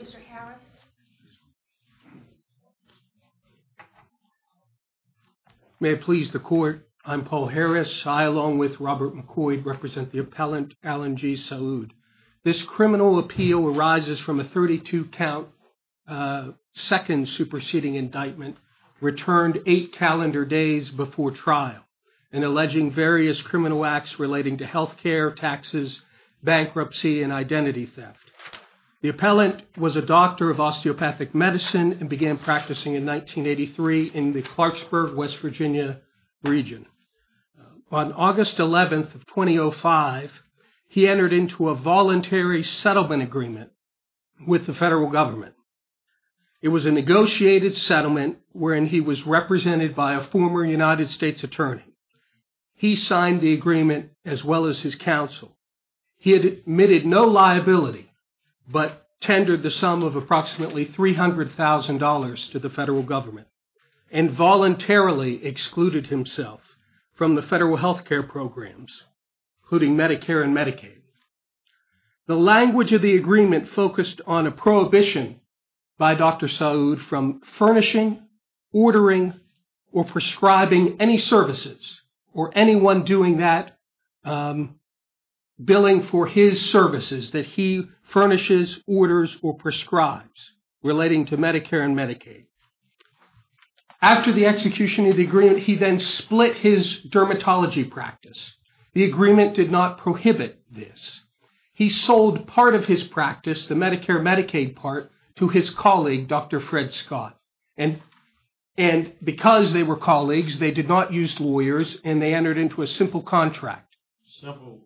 Mr. Harris. May it please the court. I'm Paul Harris. I, along with Robert McCoy, represent the appellant Allen G. Saoud. This criminal appeal arises from a 32-count second superseding indictment returned eight calendar days before trial in alleging various criminal acts relating to health care, taxes, bankruptcy, and identity theft. The appellant was a doctor of osteopathic medicine and began practicing in 1983 in the Clarksburg, West Virginia region. On August 11th of 2005, he entered into a voluntary settlement agreement with the federal government. It was a negotiated settlement wherein he was represented by a former United States attorney. He signed the agreement as well as his counsel. He admitted no liability but tendered the sum of approximately $300,000 to the federal government and voluntarily excluded himself from the federal health care programs including Medicare and Medicaid. The language of the agreement focused on a prohibition by Dr. Saoud from furnishing, ordering, or prescribing any services or anyone doing that billing for his services that he furnishes, orders, or prescribes relating to Medicare and Medicaid. After the execution of the agreement, he then split his dermatology practice. The agreement did not prohibit this. He sold part of his practice, the Medicare and Medicaid part, to his colleague, Dr. Fred Scott. And because they were colleagues, they did not use lawyers and they entered into a simple contract. Simple.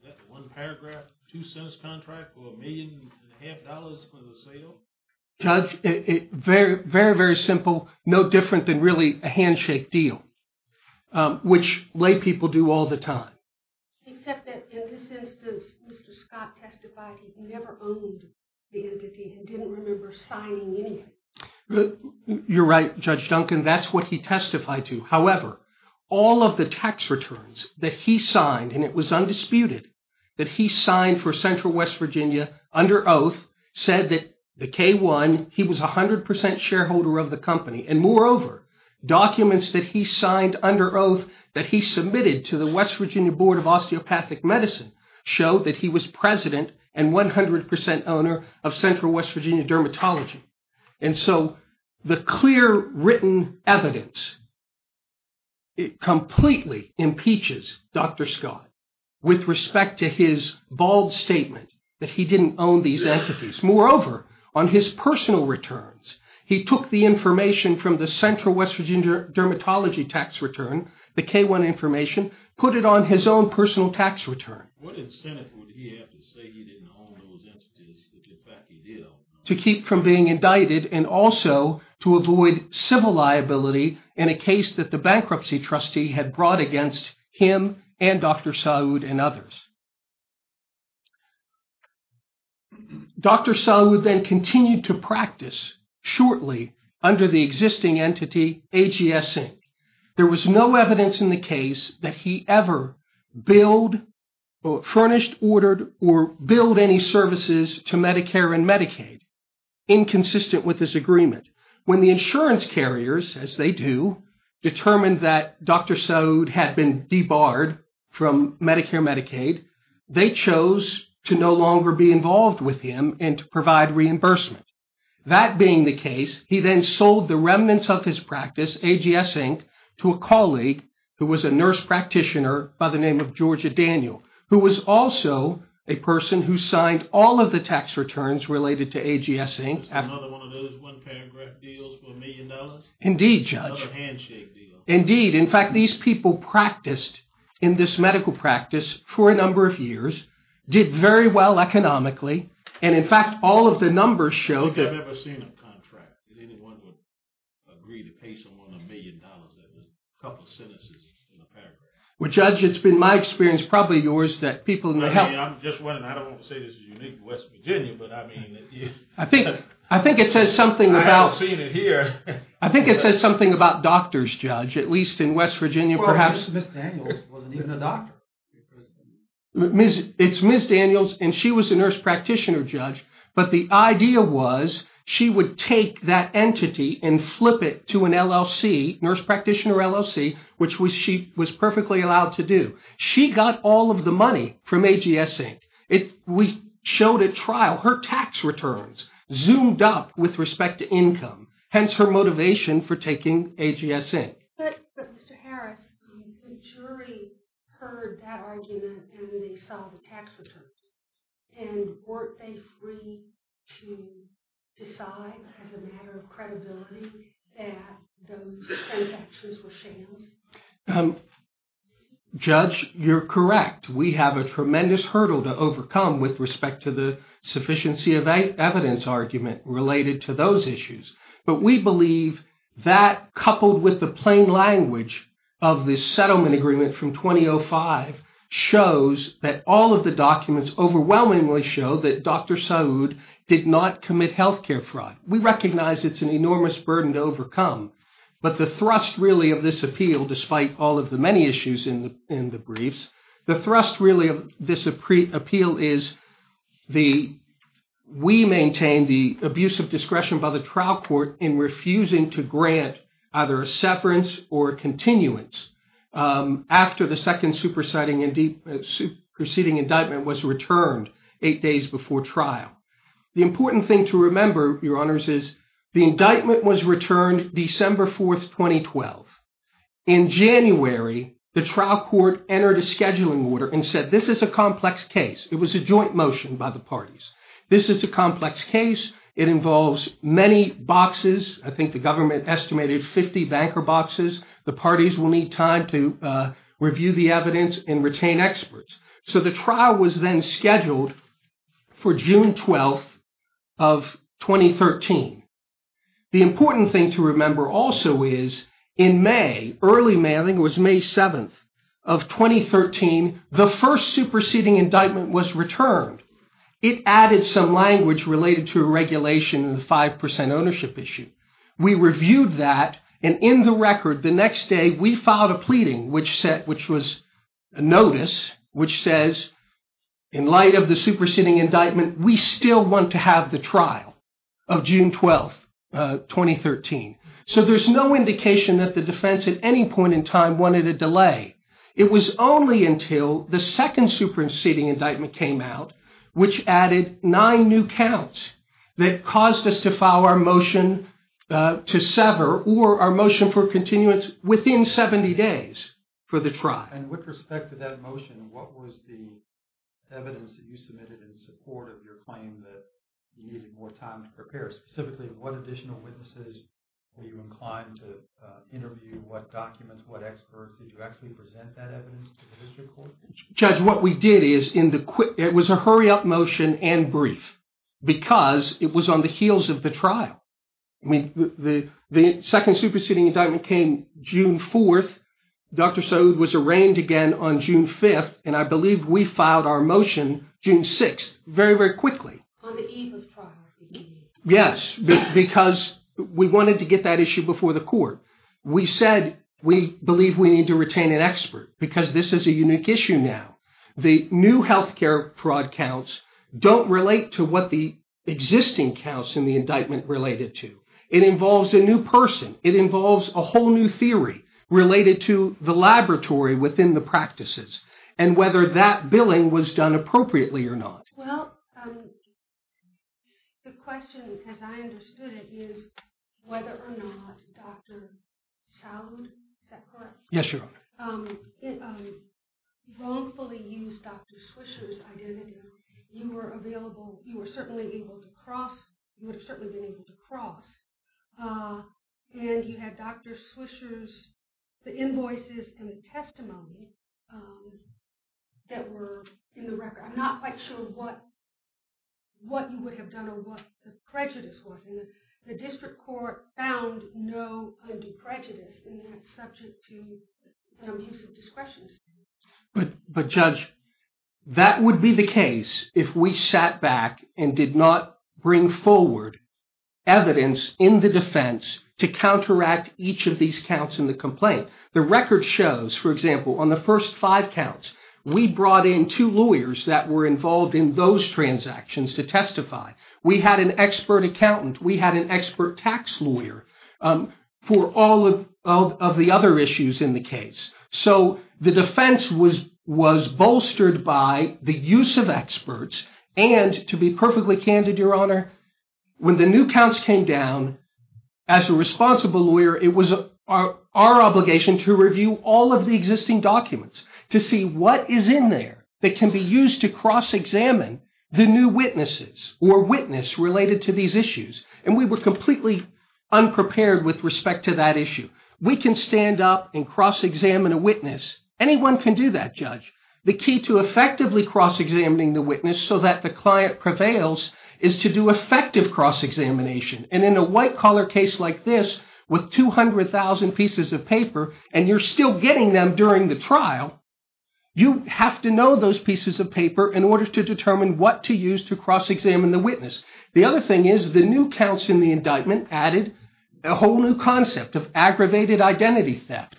Is that the one paragraph, two sentence contract for a million and a half dollars for the sale? Judge, very, very, very simple. No different than really a handshake deal, which lay people do all the time. Except that in this instance, Mr. Scott testified he never owned the entity and didn't remember signing anything. You're right, Judge Duncan. That's what he testified to. However, all of the tax returns that he signed, and it was undisputed that he signed for Central West Virginia under oath, said that the K-1, he was 100% shareholder of the company. And moreover, documents that he signed under oath that he submitted to the West Virginia Board of Osteopathic Medicine showed that he was and 100% owner of Central West Virginia Dermatology. And so the clear written evidence, it completely impeaches Dr. Scott with respect to his bald statement that he didn't own these entities. Moreover, on his personal returns, he took the information from the Central West Virginia Dermatology tax return, the K-1 information, put it on his own personal tax return. What incentive would he have to say he didn't own those entities that in fact he did own? To keep from being indicted and also to avoid civil liability in a case that the bankruptcy trustee had brought against him and Dr. Saud and others. Dr. Saud then continued to practice shortly under the existing entity, AGS Inc. There was no evidence in the case that he ever billed or furnished, ordered, or billed any services to Medicare and Medicaid inconsistent with his agreement. When the insurance carriers, as they do, determined that Dr. Saud had been debarred from Medicare Medicaid, they chose to no longer be involved with him and to provide reimbursement. That being the case, he then sold the remnants of his practice, AGS Inc., to a colleague who was a nurse practitioner by the name of Georgia Daniel, who was also a person who signed all of the tax returns related to AGS Inc. That's another one of those one-paragraph deals for a million dollars? Indeed, Judge. Another handshake deal. Indeed. In fact, these people practiced in this medical practice for a number of years, did very well economically, and in fact, all of the numbers show that- Well, Judge, it's been my experience, probably yours, that people in the health- I mean, I'm just wondering. I don't want to say this is unique to West Virginia, but I mean- I think it says something about- I haven't seen it here. I think it says something about doctors, Judge, at least in West Virginia, perhaps. Well, Ms. Daniels wasn't even a doctor. It's Ms. Daniels, and she was a nurse practitioner, Judge, but the idea was she would take that entity and flip it to an LLC, nurse practitioner LLC, which she was perfectly allowed to do. She got all of the money from AGS Inc. We showed at trial her tax returns zoomed up with respect to income, hence her motivation for taking AGS Inc. But Mr. Harris, the jury heard that argument and they saw the tax returns, and weren't they free to decide as a matter of credibility that those tax returns were shams? Judge, you're correct. We have a tremendous hurdle to overcome with respect to the sufficiency of evidence argument related to those issues. But we believe that coupled with the plain language of the settlement agreement from 2005 shows that all of the documents overwhelmingly show that Dr. Saud did not commit healthcare fraud. We recognize it's an enormous burden to overcome, but the thrust really of this appeal, despite all of the many issues in the briefs, the thrust really of this appeal is we maintain the abuse of discretion by the trial court in the case. The proceeding indictment was returned eight days before trial. The important thing to remember, Your Honors, is the indictment was returned December 4th, 2012. In January, the trial court entered a scheduling order and said, this is a complex case. It was a joint motion by the parties. This is a complex case. It involves many boxes. I think the government estimated 50 banker boxes. The parties will need time to review the evidence and retain experts. So the trial was then scheduled for June 12th of 2013. The important thing to remember also is in May, early May, I think it was May 7th of 2013, the first superseding indictment was returned. It added some language related to a regulation in the 5% ownership issue. We reviewed that. And in the record, the next day, we filed a pleading, which was a notice, which says, in light of the superseding indictment, we still want to have the trial of June 12th, 2013. So there's no indication that the defense at any point in time wanted a delay. It was only until the second superseding indictment came out, which added nine new counts, that caused us to file our motion to sever or our motion for continuance within 70 days for the trial. And with respect to that motion, what was the evidence that you submitted in support of your claim that you needed more time to prepare? Specifically, what additional witnesses were you inclined to interview? What documents, what experts? Did you actually present that evidence to the district court? Judge, what we did is in the quick, it was a hurry up motion and brief, because it was on the heels of the trial. I mean, the second superseding indictment came June 4th. Dr. Sode was arraigned again on June 5th. And I believe we filed our motion June 6th, very, very quickly. Yes, because we wanted to get that issue before the court. We said we believe we need to retain an expert, because this is a unique issue now. The new health care fraud counts don't relate to what the existing counts in the indictment related to. It involves a new person. It involves a whole new theory related to the laboratory within the practices, and whether that billing was done appropriately or not. Well, the question, as I understood it, is whether or not Dr. Sode, is that correct? Yes, Your Honor. Wrongfully used Dr. Swisher's identity. You were available. You were certainly able to cross. You would have certainly been able to cross. And you had Dr. Swisher's, the invoices and the testimony that were in the record. I'm not quite sure what you would have done or what the prejudice was. And the district court found no undue prejudice in that subject to the use of discretion. But Judge, that would be the case if we sat back and did not bring forward evidence in the defense to counteract each of these counts in the complaint. The record shows, for example, on the first five counts, we brought in two lawyers that were involved in those transactions to testify. We had an expert accountant. We had an expert tax lawyer for all of the other issues in the case. So the defense was bolstered by the use of experts. And to be perfectly candid, Your Honor, when the new counts came down, as a responsible lawyer, it was our obligation to review all of the existing documents to see what is in there that can be used to cross-examine the new witnesses or witness related to these issues. And we were completely unprepared with respect to that issue. We can stand up and cross-examine a witness. Anyone can do that, Judge. The key to effectively cross-examining the witness so that the client prevails is to do effective cross-examination. And in a white-collar case like this, with 200,000 pieces of paper, and you're still getting them during the trial, you have to know those pieces of paper in order to determine what to use to cross-examine the witness. The other thing is the new counts in the indictment added a whole new concept of aggravated identity theft,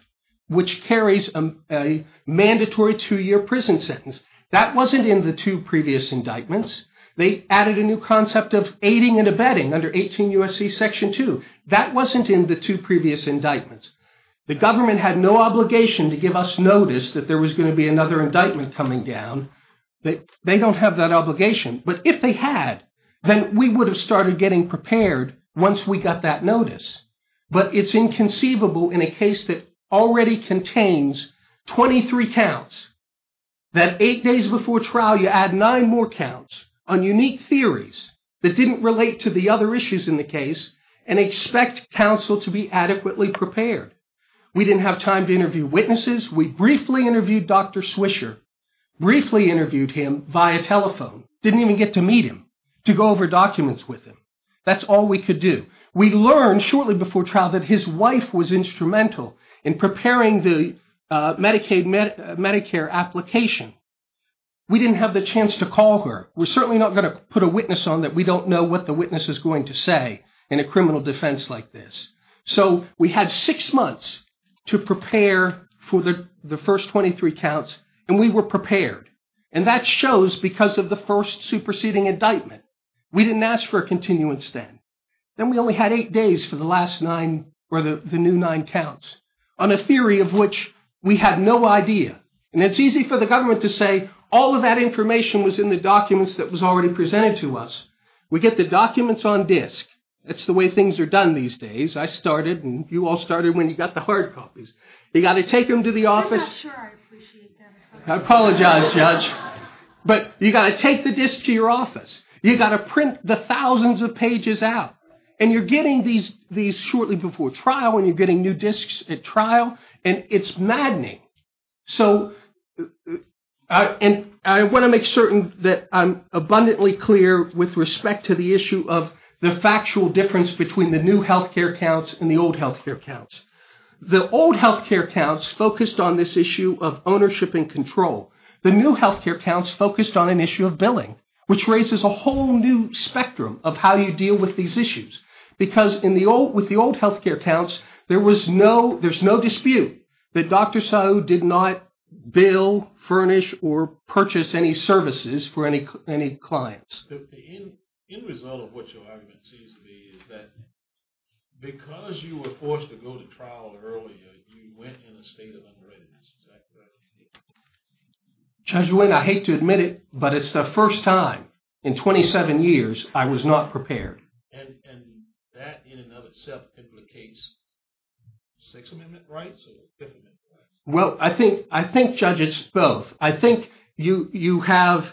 which carries a mandatory two-year prison sentence. That wasn't in the two previous indictments. They added a new concept of aiding and abetting under 18 U.S.C. Section 2. That wasn't in the two previous indictments. The government had no obligation to give us notice that there was going to be another indictment coming down. They don't have that obligation. But if they had, then we would have started getting prepared once we got that notice. But it's inconceivable in a case that already contains 23 counts, that eight days before trial, you add nine more counts on unique theories that didn't relate to the other issues in the case and expect counsel to be adequately prepared. We didn't have time to interview witnesses. We briefly interviewed Dr. Swisher, briefly interviewed him via telephone, didn't even get to meet him, to go over documents with him. That's all we could do. We learned shortly before trial that his wife was instrumental in preparing the Medicare application. We didn't have the chance to call her. We're certainly not going to put a witness on that. We don't know what the witness is going to say in a criminal defense like this. So we had six months to prepare for the first 23 counts, and we were prepared. And that shows because of the first superseding indictment. We didn't ask for a continuing stand. Then we only had eight days for the last nine or the new nine counts on a theory of which we had no idea. And it's easy for the government to say all of that information was in the documents that was already presented to us. We get the documents on disk. That's the way things are done these days. I started, and you all started when you got the hard copies. You got to take them to the office. I'm not sure I appreciate them. I apologize, Judge. But you got to take the disk to your office. You got to print the thousands of pages out. And you're getting these shortly before trial, and you're getting new disks at trial. And it's maddening. So I want to make certain that I'm abundantly clear with respect to the issue of the factual difference between the new health care counts and the old health care counts. The old health care counts focused on this issue of ownership and control. The new health care counts focused on an issue of billing, which raises a whole new spectrum of how you deal with these issues. Because with the old health care counts, there's no dispute that Dr. Sahu did not bill, furnish, or purchase any services for any clients. But the end result of what your argument seems to be is that because you were forced to go to trial earlier, you went in a state of unreadiness. Is that correct? Judge Wayne, I hate to admit it, but it's the first time in 27 years I was not prepared. And that, in and of itself, implicates Sixth Amendment rights or Fifth Amendment rights? Well, I think judges both. I think you have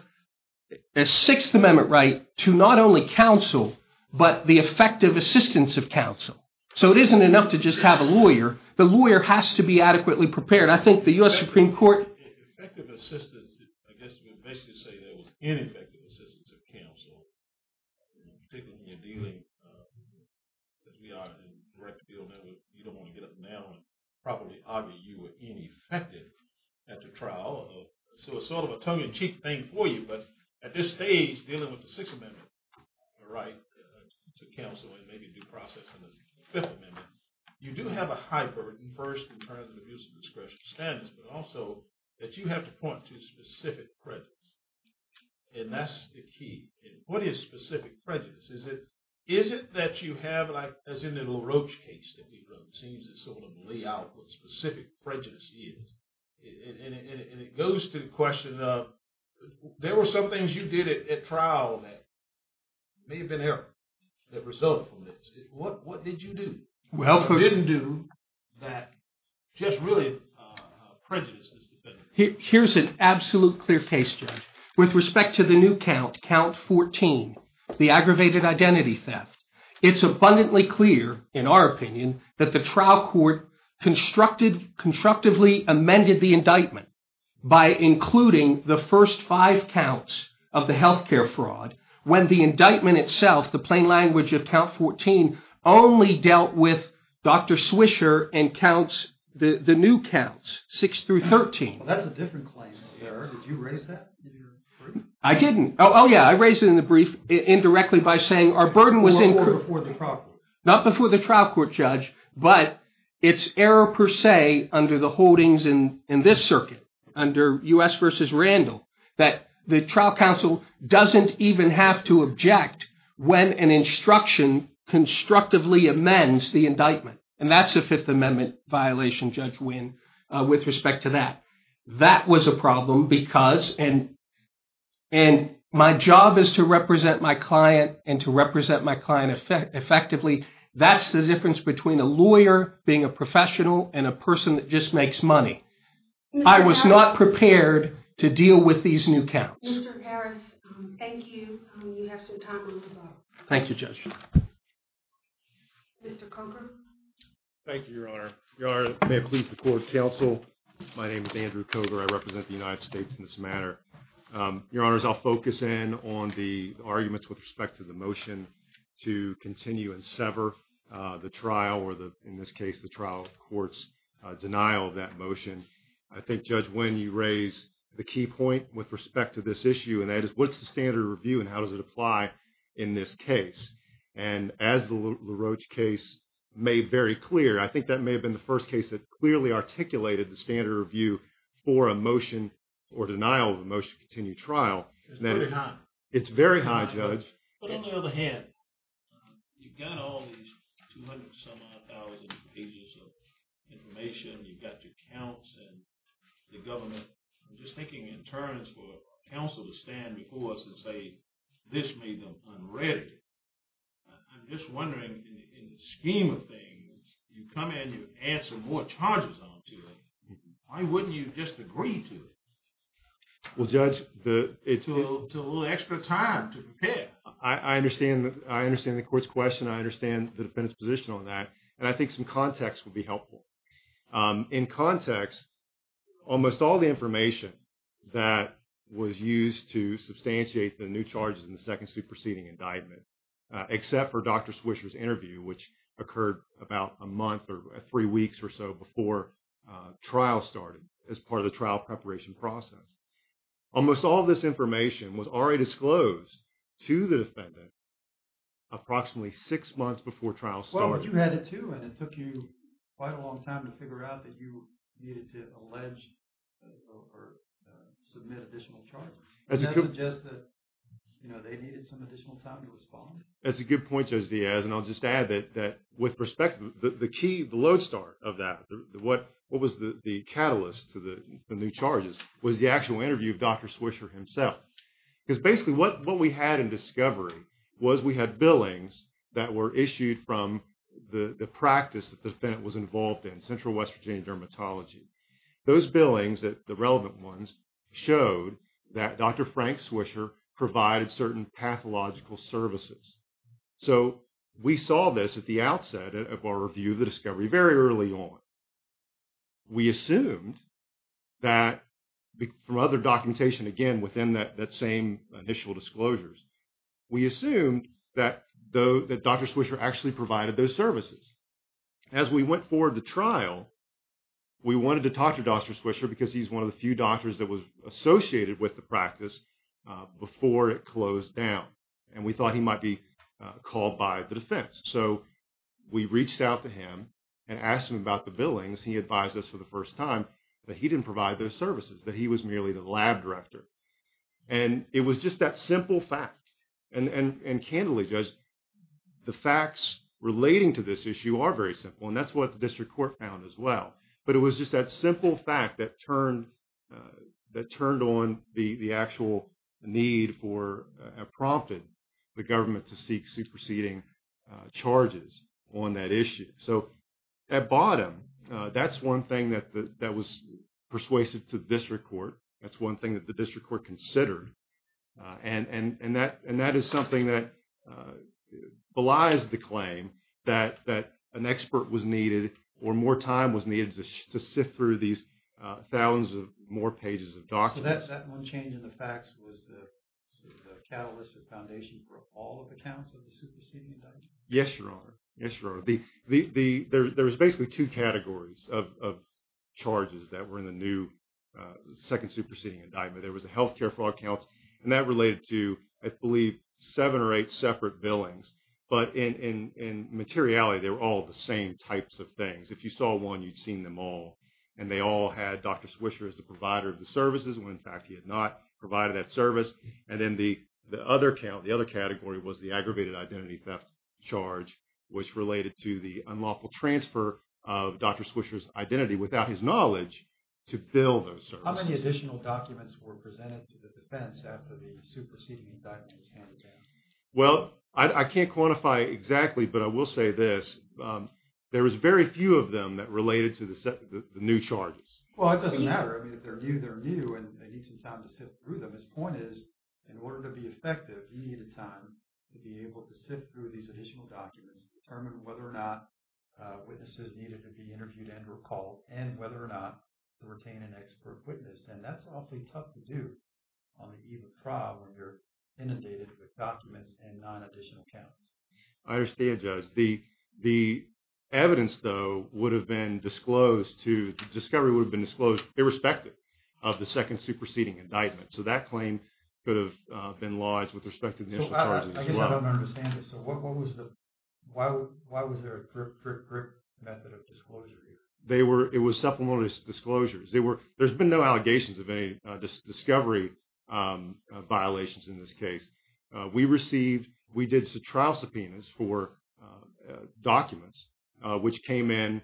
a Sixth Amendment right to not only counsel, but the effective assistance of counsel. So it isn't enough to just have a lawyer. The lawyer has to be adequately prepared. I think the US Supreme Court- Effective assistance, I guess you would basically say there was ineffective assistance of counsel, particularly when you're dealing, as we are in the direct field now, you don't want to get up now and probably argue you were ineffective at the trial. So it's sort of a tongue-in-cheek thing for you. But at this stage, dealing with the Sixth Amendment right to counsel and maybe due process in the Fifth Amendment, you do have a high burden, first, in terms of abuse of discretion standards, but also that you have to point to specific precedents. And that's the key. What is specific prejudice? Is it that you have, like, as in the little roach case that we wrote, it seems that some of them lay out what specific prejudice is. And it goes to the question of, there were some things you did at trial that may have been error that resulted from this. What did you do? Well, I didn't do that. Here's an absolute clear case, Jeff. With respect to the new count, count 14, the aggravated identity theft, it's abundantly clear, in our opinion, that the trial court constructively amended the indictment by including the first five counts of the health care fraud when the indictment itself, the plain language of count 14, only dealt with Dr. Swisher and counts, the new counts, 6 through 13. That's a different claim. Did you raise that? I didn't. Oh, yeah. I raised it in the brief indirectly by saying our burden was incurred before the trial court. Not before the trial court, Judge. But it's error per se under the holdings in this circuit, under U.S. versus Randall, that the trial counsel doesn't even have to object when an instruction constructively amends the indictment. And that's a Fifth Amendment violation, Judge Winn, with respect to that. That was a problem because, and my job is to represent my client and to represent my client effectively. That's the difference between a lawyer being a professional and a person that just makes money. I was not prepared to deal with these new counts. Mr. Harris, thank you. You have some time to move on. Thank you, Judge. Mr. Coker? Thank you, Your Honor. Your Honor, may it please the court, counsel. My name is Andrew Coker. I represent the United States in this matter. Your Honors, I'll focus in on the arguments with respect to the motion to continue and sever the trial, or in this case, the trial court's denial of that motion. I think, Judge Winn, you raised the key point with respect to this issue, and that is, what's the standard of review and how does it apply in this case? And as the LaRoche case made very clear, I think that may have been the first case that articulated the standard of review for a motion or denial of a motion to continue trial. It's very high. It's very high, Judge. But on the other hand, you've got all these 200-some-odd thousand pages of information. You've got your counts and the government. I'm just thinking in terms for counsel to stand before us and say, this made them unready. I'm just wondering, in the scheme of things, you come in and you add some more charges on to it. Why wouldn't you just agree to it? Well, Judge, it's a little extra time to prepare. I understand the court's question. I understand the defendant's position on that. And I think some context would be helpful. In context, almost all the information that was used to substantiate the new charges in the second superseding indictment, except for Dr. Swisher's interview, which occurred about a month or three weeks or so before trial started as part of the trial preparation process. Almost all of this information was already disclosed to the defendant approximately six months before trial started. Well, but you had it, too. And it took you quite a long time to figure out that you needed to allege or submit additional charges. And that was just that they needed some additional time to respond. That's a good point, Judge Diaz. And I'll just add that, with perspective, the key, the load start of that, what was the catalyst to the new charges was the actual interview of Dr. Swisher himself. Because basically, what we had in discovery was we had billings that were issued from the practice that the defendant was involved in, Central West Virginia Dermatology. Those billings, the relevant ones, showed that Dr. Frank Swisher provided certain pathological services. So we saw this at the outset of our review of the discovery very early on. We assumed that, from other documentation, again, within that same initial disclosures, we assumed that Dr. Swisher actually provided those services. As we went forward to trial, we wanted to talk to Dr. Swisher because he's one of the few doctors that was associated with the practice before it closed down. And we thought he might be called by the defense. So we reached out to him and asked him about the billings. He advised us for the first time that he didn't provide those services, that he was merely the lab director. And it was just that simple fact. And candidly, Judge, the facts relating to this issue are very simple. And that's what the district court found as well. But it was just that simple fact that turned on the actual need for, prompted the government to seek superseding charges on that issue. So at bottom, that's one thing that was persuasive to the district court. That's one thing that the district court considered. And that is something that belies the claim that an expert was needed or more time was needed to sift through these thousands of more pages of documents. So that one change in the facts was the catalyst or foundation for all of the counts of the superseding indictment? Yes, Your Honor. Yes, Your Honor. There was basically two categories of charges that were in the new second superseding indictment. There was a health care fraud count, and that related to, I believe, seven or eight separate billings. But in materiality, they were all the same types of things. If you saw one, you'd seen them all. And they all had Dr. Swisher as the provider of the services when, in fact, he had not provided that service. And then the other count, the other category was the aggravated identity theft charge, which related to the unlawful transfer of Dr. Swisher's identity without his knowledge to bill those services. How many additional documents were presented to the defense after the superseding indictment was handed down? Well, I can't quantify exactly, but I will say this. There was very few of them that related to the new charges. Well, it doesn't matter. I mean, if they're new, they're new, and they need some time to sift through them. His point is, in order to be effective, you needed time to be able to sift through these additional documents to determine whether or not witnesses needed to be interviewed and recalled, and whether or not to retain an expert witness. And that's awfully tough to do on the eve of trial when you're inundated with documents and non-additional counts. I understand, Judge. The evidence, though, would have been disclosed to, discovery would have been disclosed irrespective of the second superseding indictment. So that claim could have been lodged with respect to the initial charges as well. I guess I don't understand this. What was the, why was there a brick method of disclosure here? They were, it was supplemental disclosures. They were, there's been no allegations of any discovery violations in this case. We received, we did trial subpoenas for documents, which came in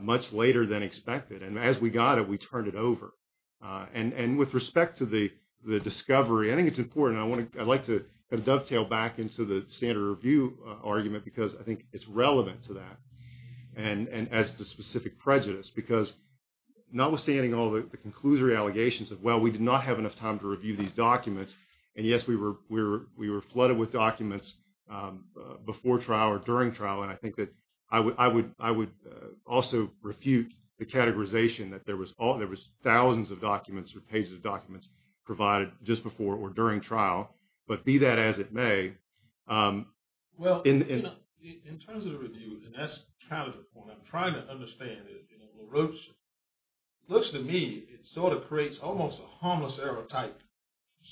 much later than expected. And as we got it, we turned it over. And with respect to the discovery, I think it's important, I want to, I'd like to dovetail back into the standard review argument, because I think it's relevant to that. And as the specific prejudice, because notwithstanding all the conclusory allegations of, well, we did not have enough time to review these documents. And yes, we were flooded with documents before trial or during trial. And I think that I would also refute the categorization that there was thousands of documents or pages of documents provided just before or during trial. But be that as it may. Well, in terms of the review, and that's kind of the point, I'm trying to understand it. It looks to me, it sort of creates almost a harmless error type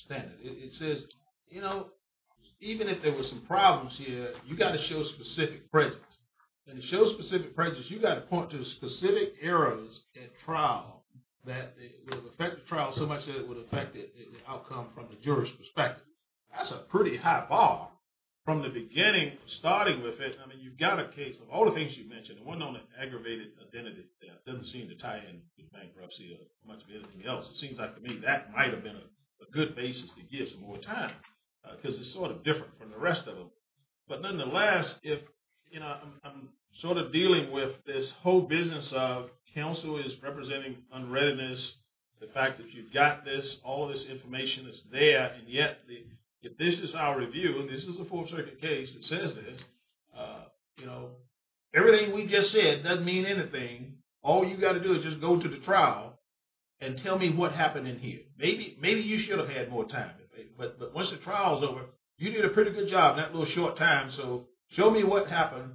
standard. It says, you know, even if there were some problems here, you got to show specific prejudice. And to show specific prejudice, you got to point to specific errors at trial that will affect the trial so much that it would affect the outcome from the juror's perspective. That's a pretty high bar from the beginning, starting with it. I mean, you've got a case of all the things you've mentioned. It wasn't on an aggravated identity theft. It doesn't seem to tie in with bankruptcy or much of anything else. It seems like to me that might have been a good basis to give some more time, because it's sort of different from the rest of them. But nonetheless, if, you know, I'm sort of dealing with this whole business of counsel is representing unreadiness, the fact that you've got this, all this information is there. And yet, if this is our review, and this is a Fourth Circuit case that says this, you know, everything we just said doesn't mean anything. All you've got to do is just go to the trial and tell me what happened in here. Maybe you should have had more time. But once the trial's over, you did a pretty good job in that little short time. So show me what happened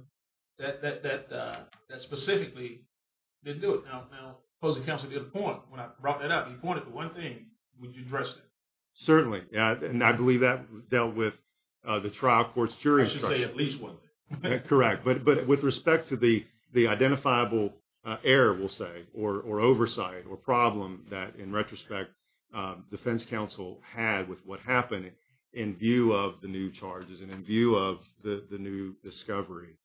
that specifically didn't do it. Now, opposing counsel did a point when I brought that up. He pointed to one thing. Would you address that? Certainly. And I believe that dealt with the trial court's jury instruction. I should say at least one thing. Correct. But with respect to the identifiable error, we'll say, or oversight or problem that, in retrospect, defense counsel had with what happened in view of the new charges and in view of the new discovery,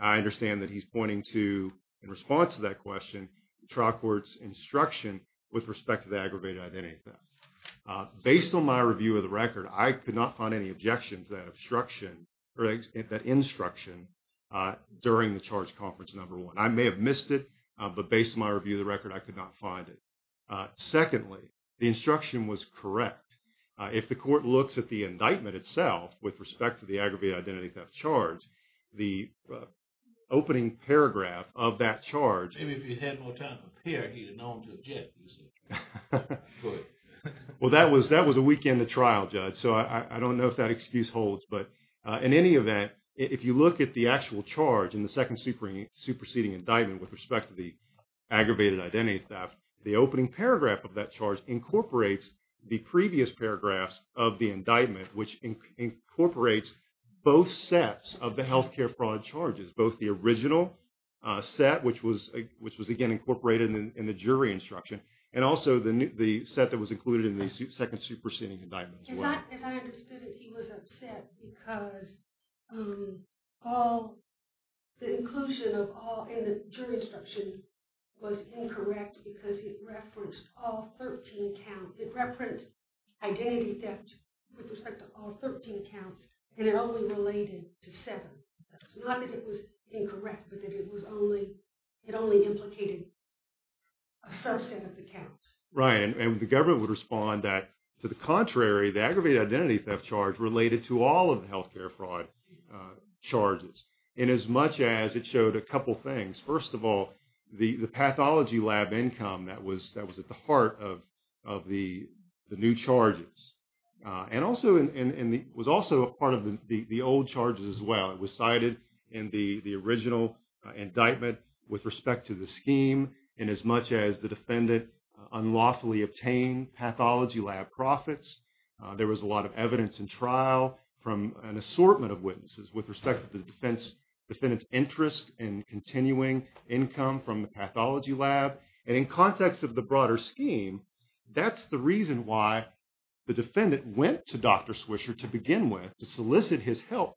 I understand that he's pointing to, in response to that question, trial court's instruction with respect to the aggravated identity theft. Based on my review of the record, I could not find any objection to that obstruction or that instruction during the charge conference number one. I may have missed it. But based on my review of the record, I could not find it. Secondly, the instruction was correct. If the court looks at the indictment itself with respect to the aggravated identity theft charge, the opening paragraph of that charge. Maybe if you had more time to appear, he'd have known to object. Well, that was a week in the trial, Judge. So I don't know if that excuse holds. But in any event, if you look at the actual charge in the second superseding indictment with respect to the aggravated identity theft, the opening paragraph of that charge incorporates the previous paragraphs of the indictment, which incorporates both sets of the health care fraud charges, both the original set, which was again incorporated in the jury instruction, and also the set that was included in the second superseding indictment as well. As I understood it, he was upset because the inclusion of all in the jury instruction was incorrect because it referenced all 13 counts. It referenced identity theft with respect to all 13 counts, and it only related to seven. Not that it was incorrect, but that it only implicated a subset of the counts. Right, and the government would respond that, to the contrary, the aggravated identity theft charge related to all of the health care fraud charges, in as much as it showed a couple things. First of all, the pathology lab income that was at the heart of the new charges, and was also a part of the old charges as well. It was cited in the original indictment with respect to the scheme, in as much as the defendant unlawfully obtained pathology lab profits, there was a lot of evidence in trial from an assortment of witnesses with respect to the defendant's interest in continuing income from the pathology lab. And in context of the broader scheme, that's the reason why the defendant went to Dr. Swisher to begin with, to solicit his help,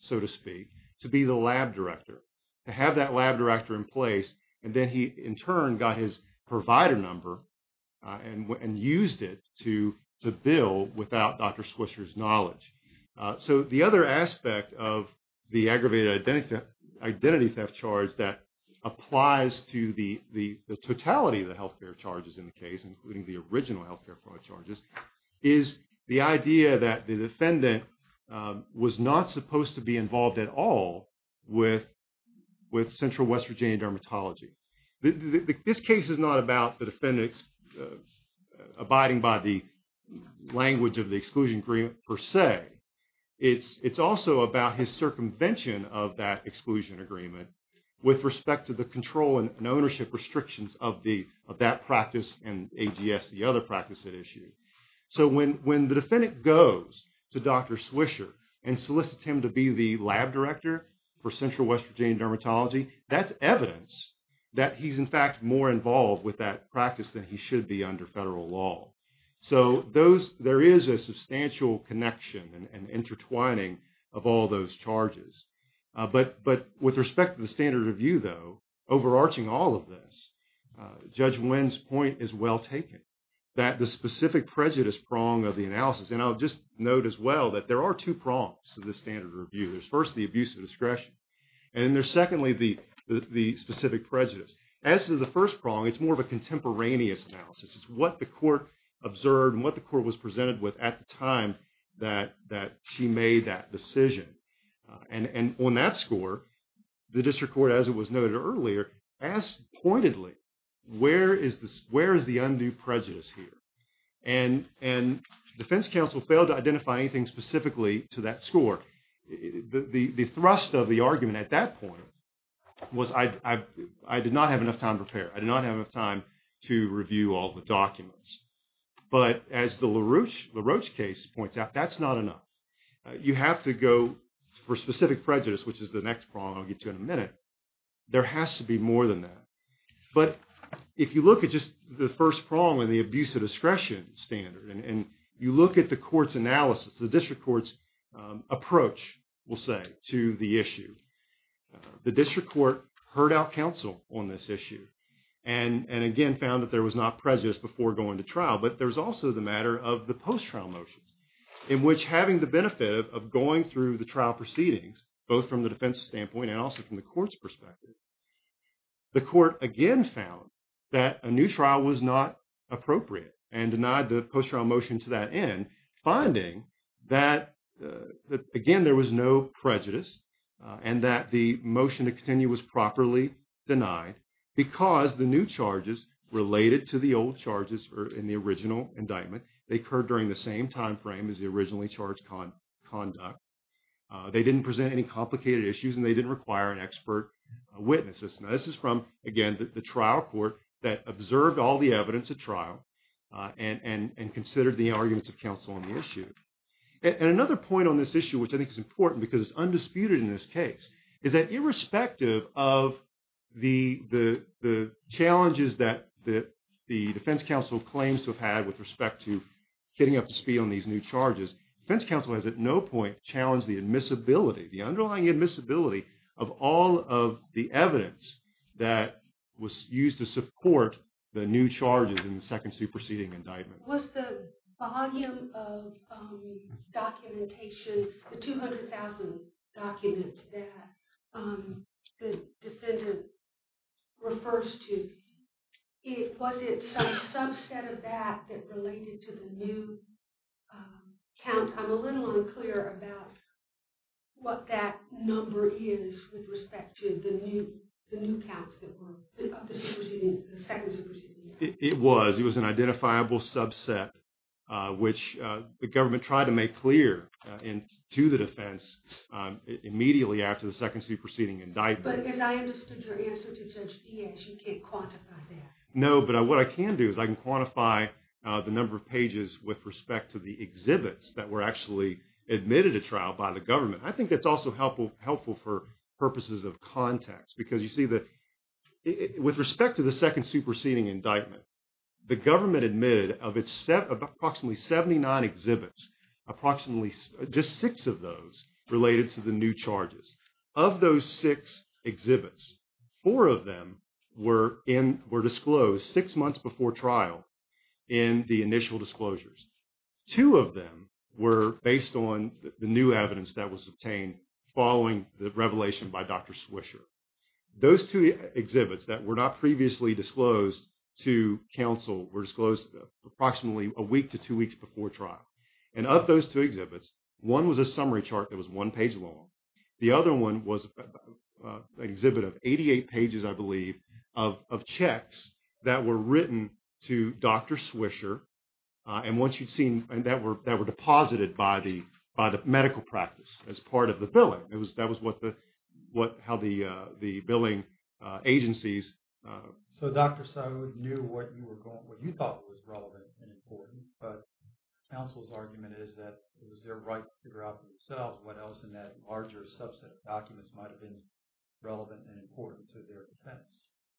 so to speak, to be the lab director, to have that lab director in place. And then he, in turn, got his provider number and used it to bill without Dr. Swisher's knowledge. So the other aspect of the aggravated identity theft charge that applies to the totality of the health care charges in the case, including the original health care fraud charges, is the idea that the defendant was not supposed to be involved at all with Central West Virginia dermatology. This case is not about the defendant abiding by the language of the exclusion agreement per se. It's also about his circumvention of that exclusion agreement with respect to the control and ownership restrictions of that practice and AGS, the other practice at issue. So when the defendant goes to Dr. Swisher and solicits him to be the lab director for Central West Virginia dermatology, that's evidence that he's, in fact, more involved with that practice than he should be under federal law. So there is a substantial connection and intertwining of all those charges. But with respect to the standard of view, though, overarching all of this, Judge Nguyen's well taken, that the specific prejudice prong of the analysis, and I'll just note as well that there are two prongs to the standard of review. There's first the abuse of discretion, and then there's secondly the specific prejudice. As to the first prong, it's more of a contemporaneous analysis. It's what the court observed and what the court was presented with at the time that she made that decision. And on that score, the district court, as it was noted earlier, asked pointedly, where is the undue prejudice here? And defense counsel failed to identify anything specifically to that score. The thrust of the argument at that point was I did not have enough time to prepare. I did not have enough time to review all the documents. But as the LaRoche case points out, that's not enough. You have to go for specific prejudice, which is the next prong I'll get to in a minute. There has to be more than that. But if you look at just the first prong and the abuse of discretion standard, and you look at the court's analysis, the district court's approach, we'll say, to the issue, the district court heard our counsel on this issue and again found that there was not prejudice before going to trial. But there's also the matter of the post-trial motions, in which having the benefit of going through the trial proceedings, both from the defense standpoint and also from the court's standpoint, again, found that a new trial was not appropriate and denied the post-trial motion to that end, finding that, again, there was no prejudice and that the motion to continue was properly denied because the new charges related to the old charges in the original indictment. They occurred during the same time frame as the originally charged conduct. They didn't present any complicated issues and they didn't require an expert witness. Now, this is from, again, the trial court that observed all the evidence at trial and considered the arguments of counsel on the issue. And another point on this issue, which I think is important because it's undisputed in this case, is that irrespective of the challenges that the defense counsel claims to have had with respect to getting up to speed on these new charges, defense counsel has at no point challenged the admissibility, the underlying admissibility of all of the evidence that was used to support the new charges in the second superseding indictment. Was the volume of documentation, the 200,000 documents that the defendant refers to, was it some subset of that that related to the new counts? I'm a little unclear about what that number is with respect to the new counts of the second superseding indictment. It was. It was an identifiable subset, which the government tried to make clear to the defense immediately after the second superseding indictment. But as I understood your answer to Judge Diaz, you can't quantify that. No, but what I can do is I can quantify the number of pages with respect to the exhibits that were actually admitted to trial by the government. I think that's also helpful for purposes of context, because you see that with respect to the second superseding indictment, the government admitted of approximately 79 exhibits, approximately just six of those related to the new charges. Of those six exhibits, four of them were disclosed six months before trial in the initial disclosures. Two of them were based on the new evidence that was obtained following the revelation by Dr. Swisher. Those two exhibits that were not previously disclosed to counsel were disclosed approximately a week to two weeks before trial. And of those two exhibits, one was a summary chart that was one page long. The other one was an exhibit of 88 pages, I believe, of checks that were written to Dr. Swisher. And once you'd seen that were deposited by the medical practice as part of the billing, that was how the billing agencies... So Dr. So knew what you thought was relevant and important, but counsel's argument is that it was their right to figure out for themselves what else in that larger subset of documents might have been relevant and important to their defense.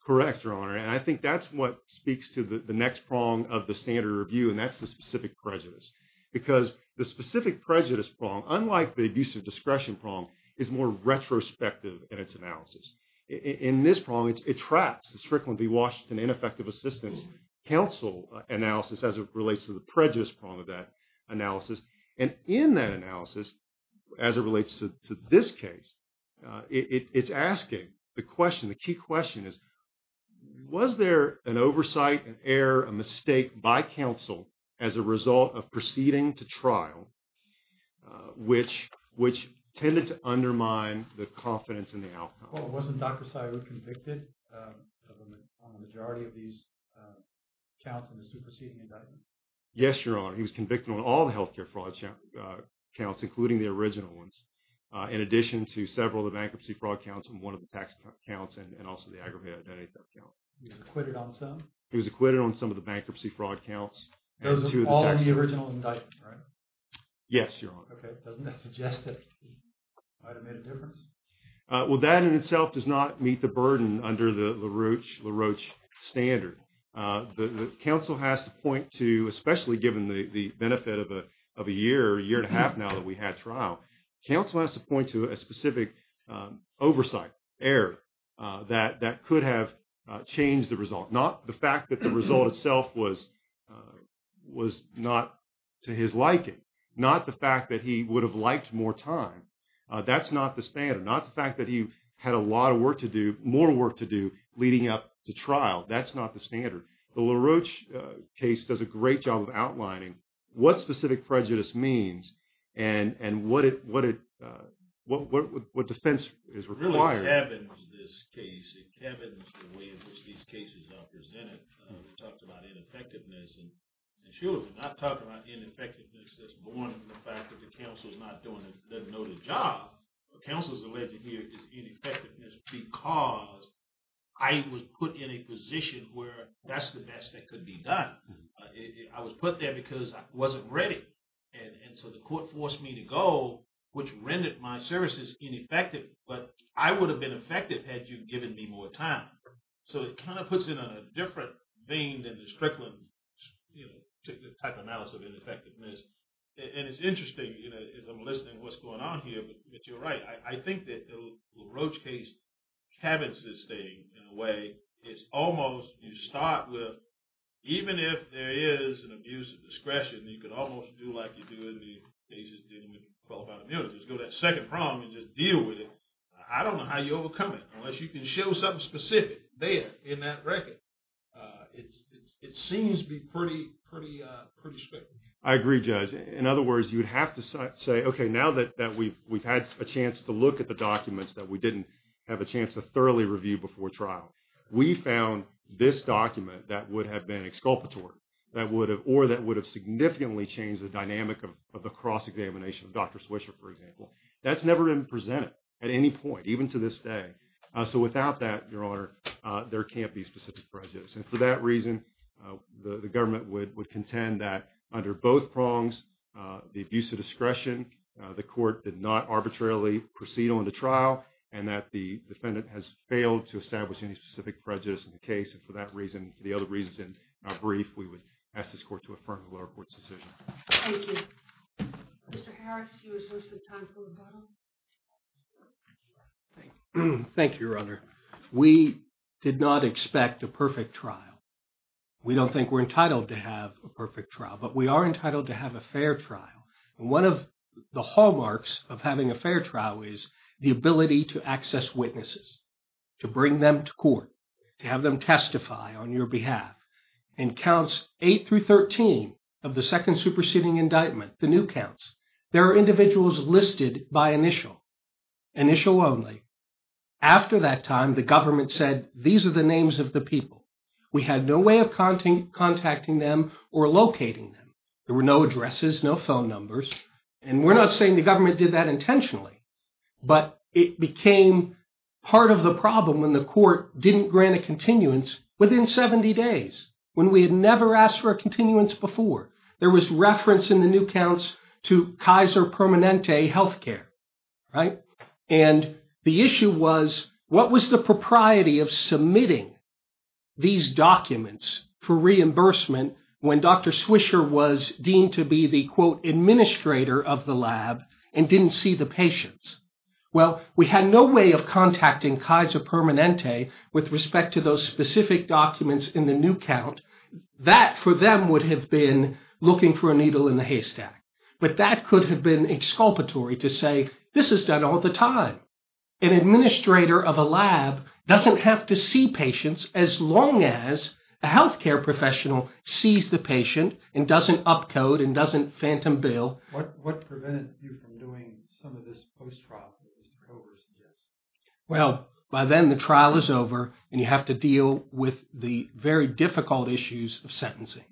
Correct, Your Honor. And I think that's what speaks to the next prong of the standard review, and that's the specific prejudice. Because the specific prejudice prong, unlike the abuse of discretion prong, is more retrospective in its analysis. In this prong, it traps the Strickland v. Washington ineffective assistance counsel analysis as it relates to the prejudice prong of that analysis. And in that analysis, as it relates to this case, it's asking the question, the key question is, was there an oversight, an error, a mistake by counsel as a result of proceeding to trial which tended to undermine the confidence in the outcome? Well, wasn't Dr. Sywood convicted on the majority of these counts in the superseding indictment? Yes, Your Honor. He was convicted on all the healthcare fraud counts, including the original ones, in addition to several of the bankruptcy fraud counts, and one of the tax counts, and also the aggravated identity theft count. He was acquitted on some? He was acquitted on some of the bankruptcy fraud counts. Those are all in the original indictment, right? Yes, Your Honor. Okay. Doesn't that suggest that it might have made a difference? Well, that in itself does not meet the burden under the LaRoche standard. The counsel has to point to, especially given the benefit of a year, a year and a half now that we had trial, counsel has to point to a specific oversight error that could have changed the result. Not the fact that the result itself was not to his liking. Not the fact that he would have liked more time. That's not the standard. Not the fact that he had a lot of work to do, more work to do, leading up to trial. That's not the standard. The LaRoche case does a great job of outlining what specific prejudice means and what defense is required. Kevin's this case. Kevin's the way in which these cases are presented. We talked about ineffectiveness. And Sheila was not talking about ineffectiveness that's born from the fact that the counsel's not doing the noted job. Counsel's alleged here is ineffectiveness because I was put in a position where that's the best that could be done. I was put there because I wasn't ready. And so the court forced me to go, which rendered my services ineffective. But I would have been effective had you given me more time. So it kind of puts in a different vein than the Strickland type analysis of ineffectiveness. And it's interesting as I'm listening what's going on here, but you're right. I think that the LaRoche case cabins this thing in a way. It's almost, you start with, even if there is an abuse of discretion, you could almost do like you do in the cases dealing with qualified immunity. Just go to that second problem and just deal with it. I don't know how you overcome it unless you can show something specific there in that record. It seems to be pretty spectrum. I agree, Judge. In other words, you would have to say, OK, now that we've had a chance to look at the documents that we didn't have a chance to thoroughly review before trial, we found this document that would have been exculpatory or that would have significantly changed the dynamic of the cross-examination of Dr. Swisher, for example. That's never been presented at any point, even to this day. So without that, Your Honor, there can't be specific prejudice. And for that reason, the government would contend that under both prongs, the abuse of discretion, the court did not arbitrarily proceed on the trial, and that the defendant has failed to establish any specific prejudice in the case. And for that reason, for the other reasons in our brief, we would ask this court to affirm the lower court's decision. Thank you. Mr. Harris, you were sourced at time for rebuttal. Thank you, Your Honor. We did not expect a perfect trial. We don't think we're entitled to have a perfect trial, but we are entitled to have a fair trial. And one of the hallmarks of having a fair trial is the ability to access witnesses, to bring them to court, to have them testify on your behalf. In counts 8 through 13 of the second superseding indictment, the new counts, there are individuals listed by initial, initial only. After that time, the government said, these are the names of the people. We had no way of contacting them or locating them. There were no addresses, no phone numbers. And we're not saying the government did that intentionally, but it became part of the problem when the court didn't grant a continuance within 70 days, when we had never asked for a continuance before. There was reference in the new counts to Kaiser Permanente Healthcare, right? And the issue was, what was the propriety of submitting these documents for reimbursement when Dr. Swisher was deemed to be the, quote, administrator of the lab and didn't see the patients? Well, we had no way of contacting Kaiser Permanente with respect to those specific documents in the new count. That, for them, would have been looking for a needle in the haystack. But that could have been exculpatory to say, this is done all the time. An administrator of a lab doesn't have to see patients as long as a healthcare professional sees the patient and doesn't upcode and doesn't phantom bill. What prevented you from doing some of this post-trial, as the cover suggests? Well, by then, the trial is over, and you have to deal with the very difficult issues of sentencing.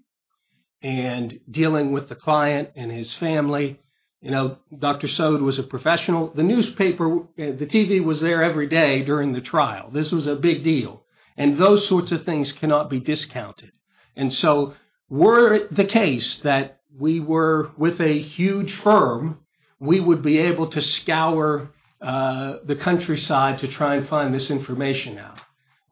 And dealing with the client and his family, you know, Dr. Sode was a professional. The newspaper, the TV was there every day during the trial. This was a big deal. And those sorts of things cannot be discounted. And so were it the case that we were with a huge firm, we would be able to scour the countryside to try and find this information out.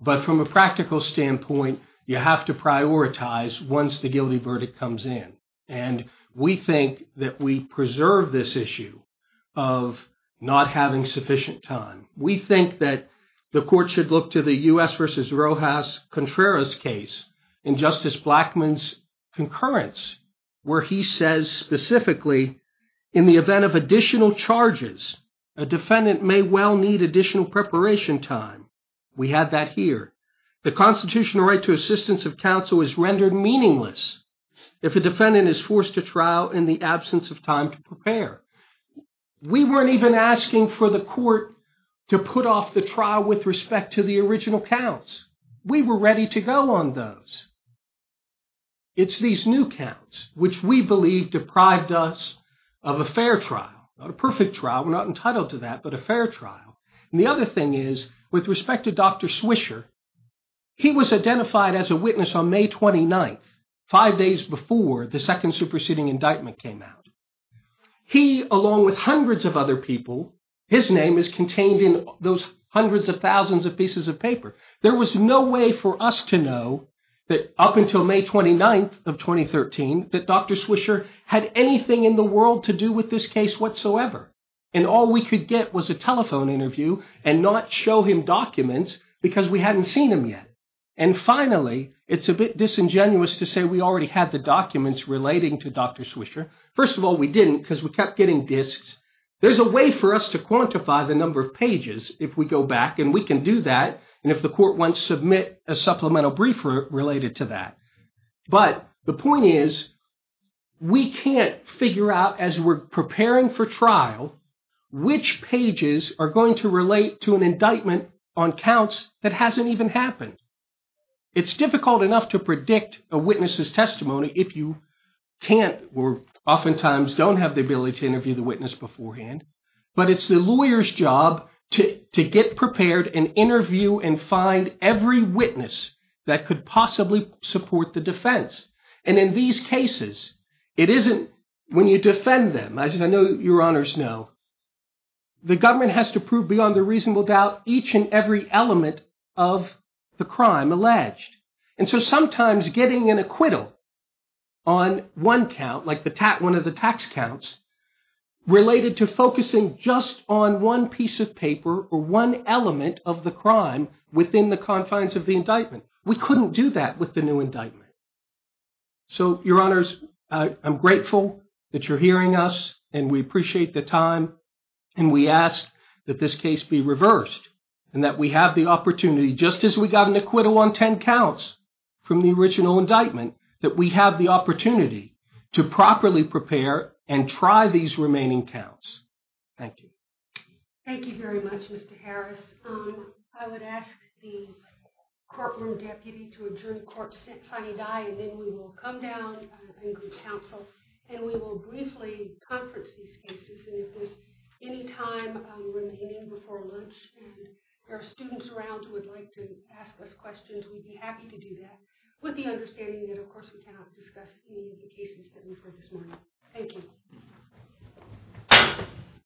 But from a practical standpoint, you have to prioritize once the guilty verdict comes in. And we think that we preserve this issue of not having sufficient time. We think that the court should look to the U.S. versus Rojas Contreras case in Justice Blackmun's concurrence, where he says specifically, in the event of additional charges, a defendant may well need additional preparation time. We had that here. The constitutional right to assistance of counsel is rendered meaningless if a defendant We weren't even asking for the court to put off the trial with respect to the original counts. We were ready to go on those. It's these new counts, which we believe deprived us of a fair trial, not a perfect trial. We're not entitled to that, but a fair trial. And the other thing is, with respect to Dr. Swisher, he was identified as a witness on May 29th, five days before the second superseding indictment came out. He, along with hundreds of other people, his name is contained in those hundreds of thousands of pieces of paper. There was no way for us to know that up until May 29th of 2013, that Dr. Swisher had anything in the world to do with this case whatsoever. And all we could get was a telephone interview and not show him documents because we hadn't seen him yet. And finally, it's a bit disingenuous to say we already had the documents relating to Dr. Swisher. First of all, we didn't because we kept getting disks. There's a way for us to quantify the number of pages if we go back and we can do that. And if the court wants to submit a supplemental brief related to that. But the point is, we can't figure out as we're preparing for trial, which pages are going to relate to an indictment on counts that hasn't even happened. It's difficult enough to predict a witness's testimony if you can't or oftentimes don't have the ability to interview the witness beforehand. But it's the lawyer's job to get prepared and interview and find every witness that could possibly support the defense. And in these cases, it isn't when you defend them, as I know your honors know, the government has to prove beyond a reasonable doubt each and every element of the crime alleged. And so sometimes getting an acquittal on one count like one of the tax counts related to focusing just on one piece of paper or one element of the crime within the confines of the indictment. We couldn't do that with the new indictment. So your honors, I'm grateful that you're hearing us and we appreciate the time. And we ask that this case be reversed and that we have the opportunity, just as we got an acquittal on 10 counts from the original indictment, that we have the opportunity to properly prepare and try these remaining counts. Thank you. Thank you very much, Mr. Harris. I would ask the courtroom deputy to adjourn court sine die. And then we will come down and go to counsel. And we will briefly conference these cases. And if there's any time remaining before lunch and there are students around who would like to ask us questions, we'd be happy to do that with the understanding that, of course, we cannot discuss any of the cases that we've heard this morning. Thank you.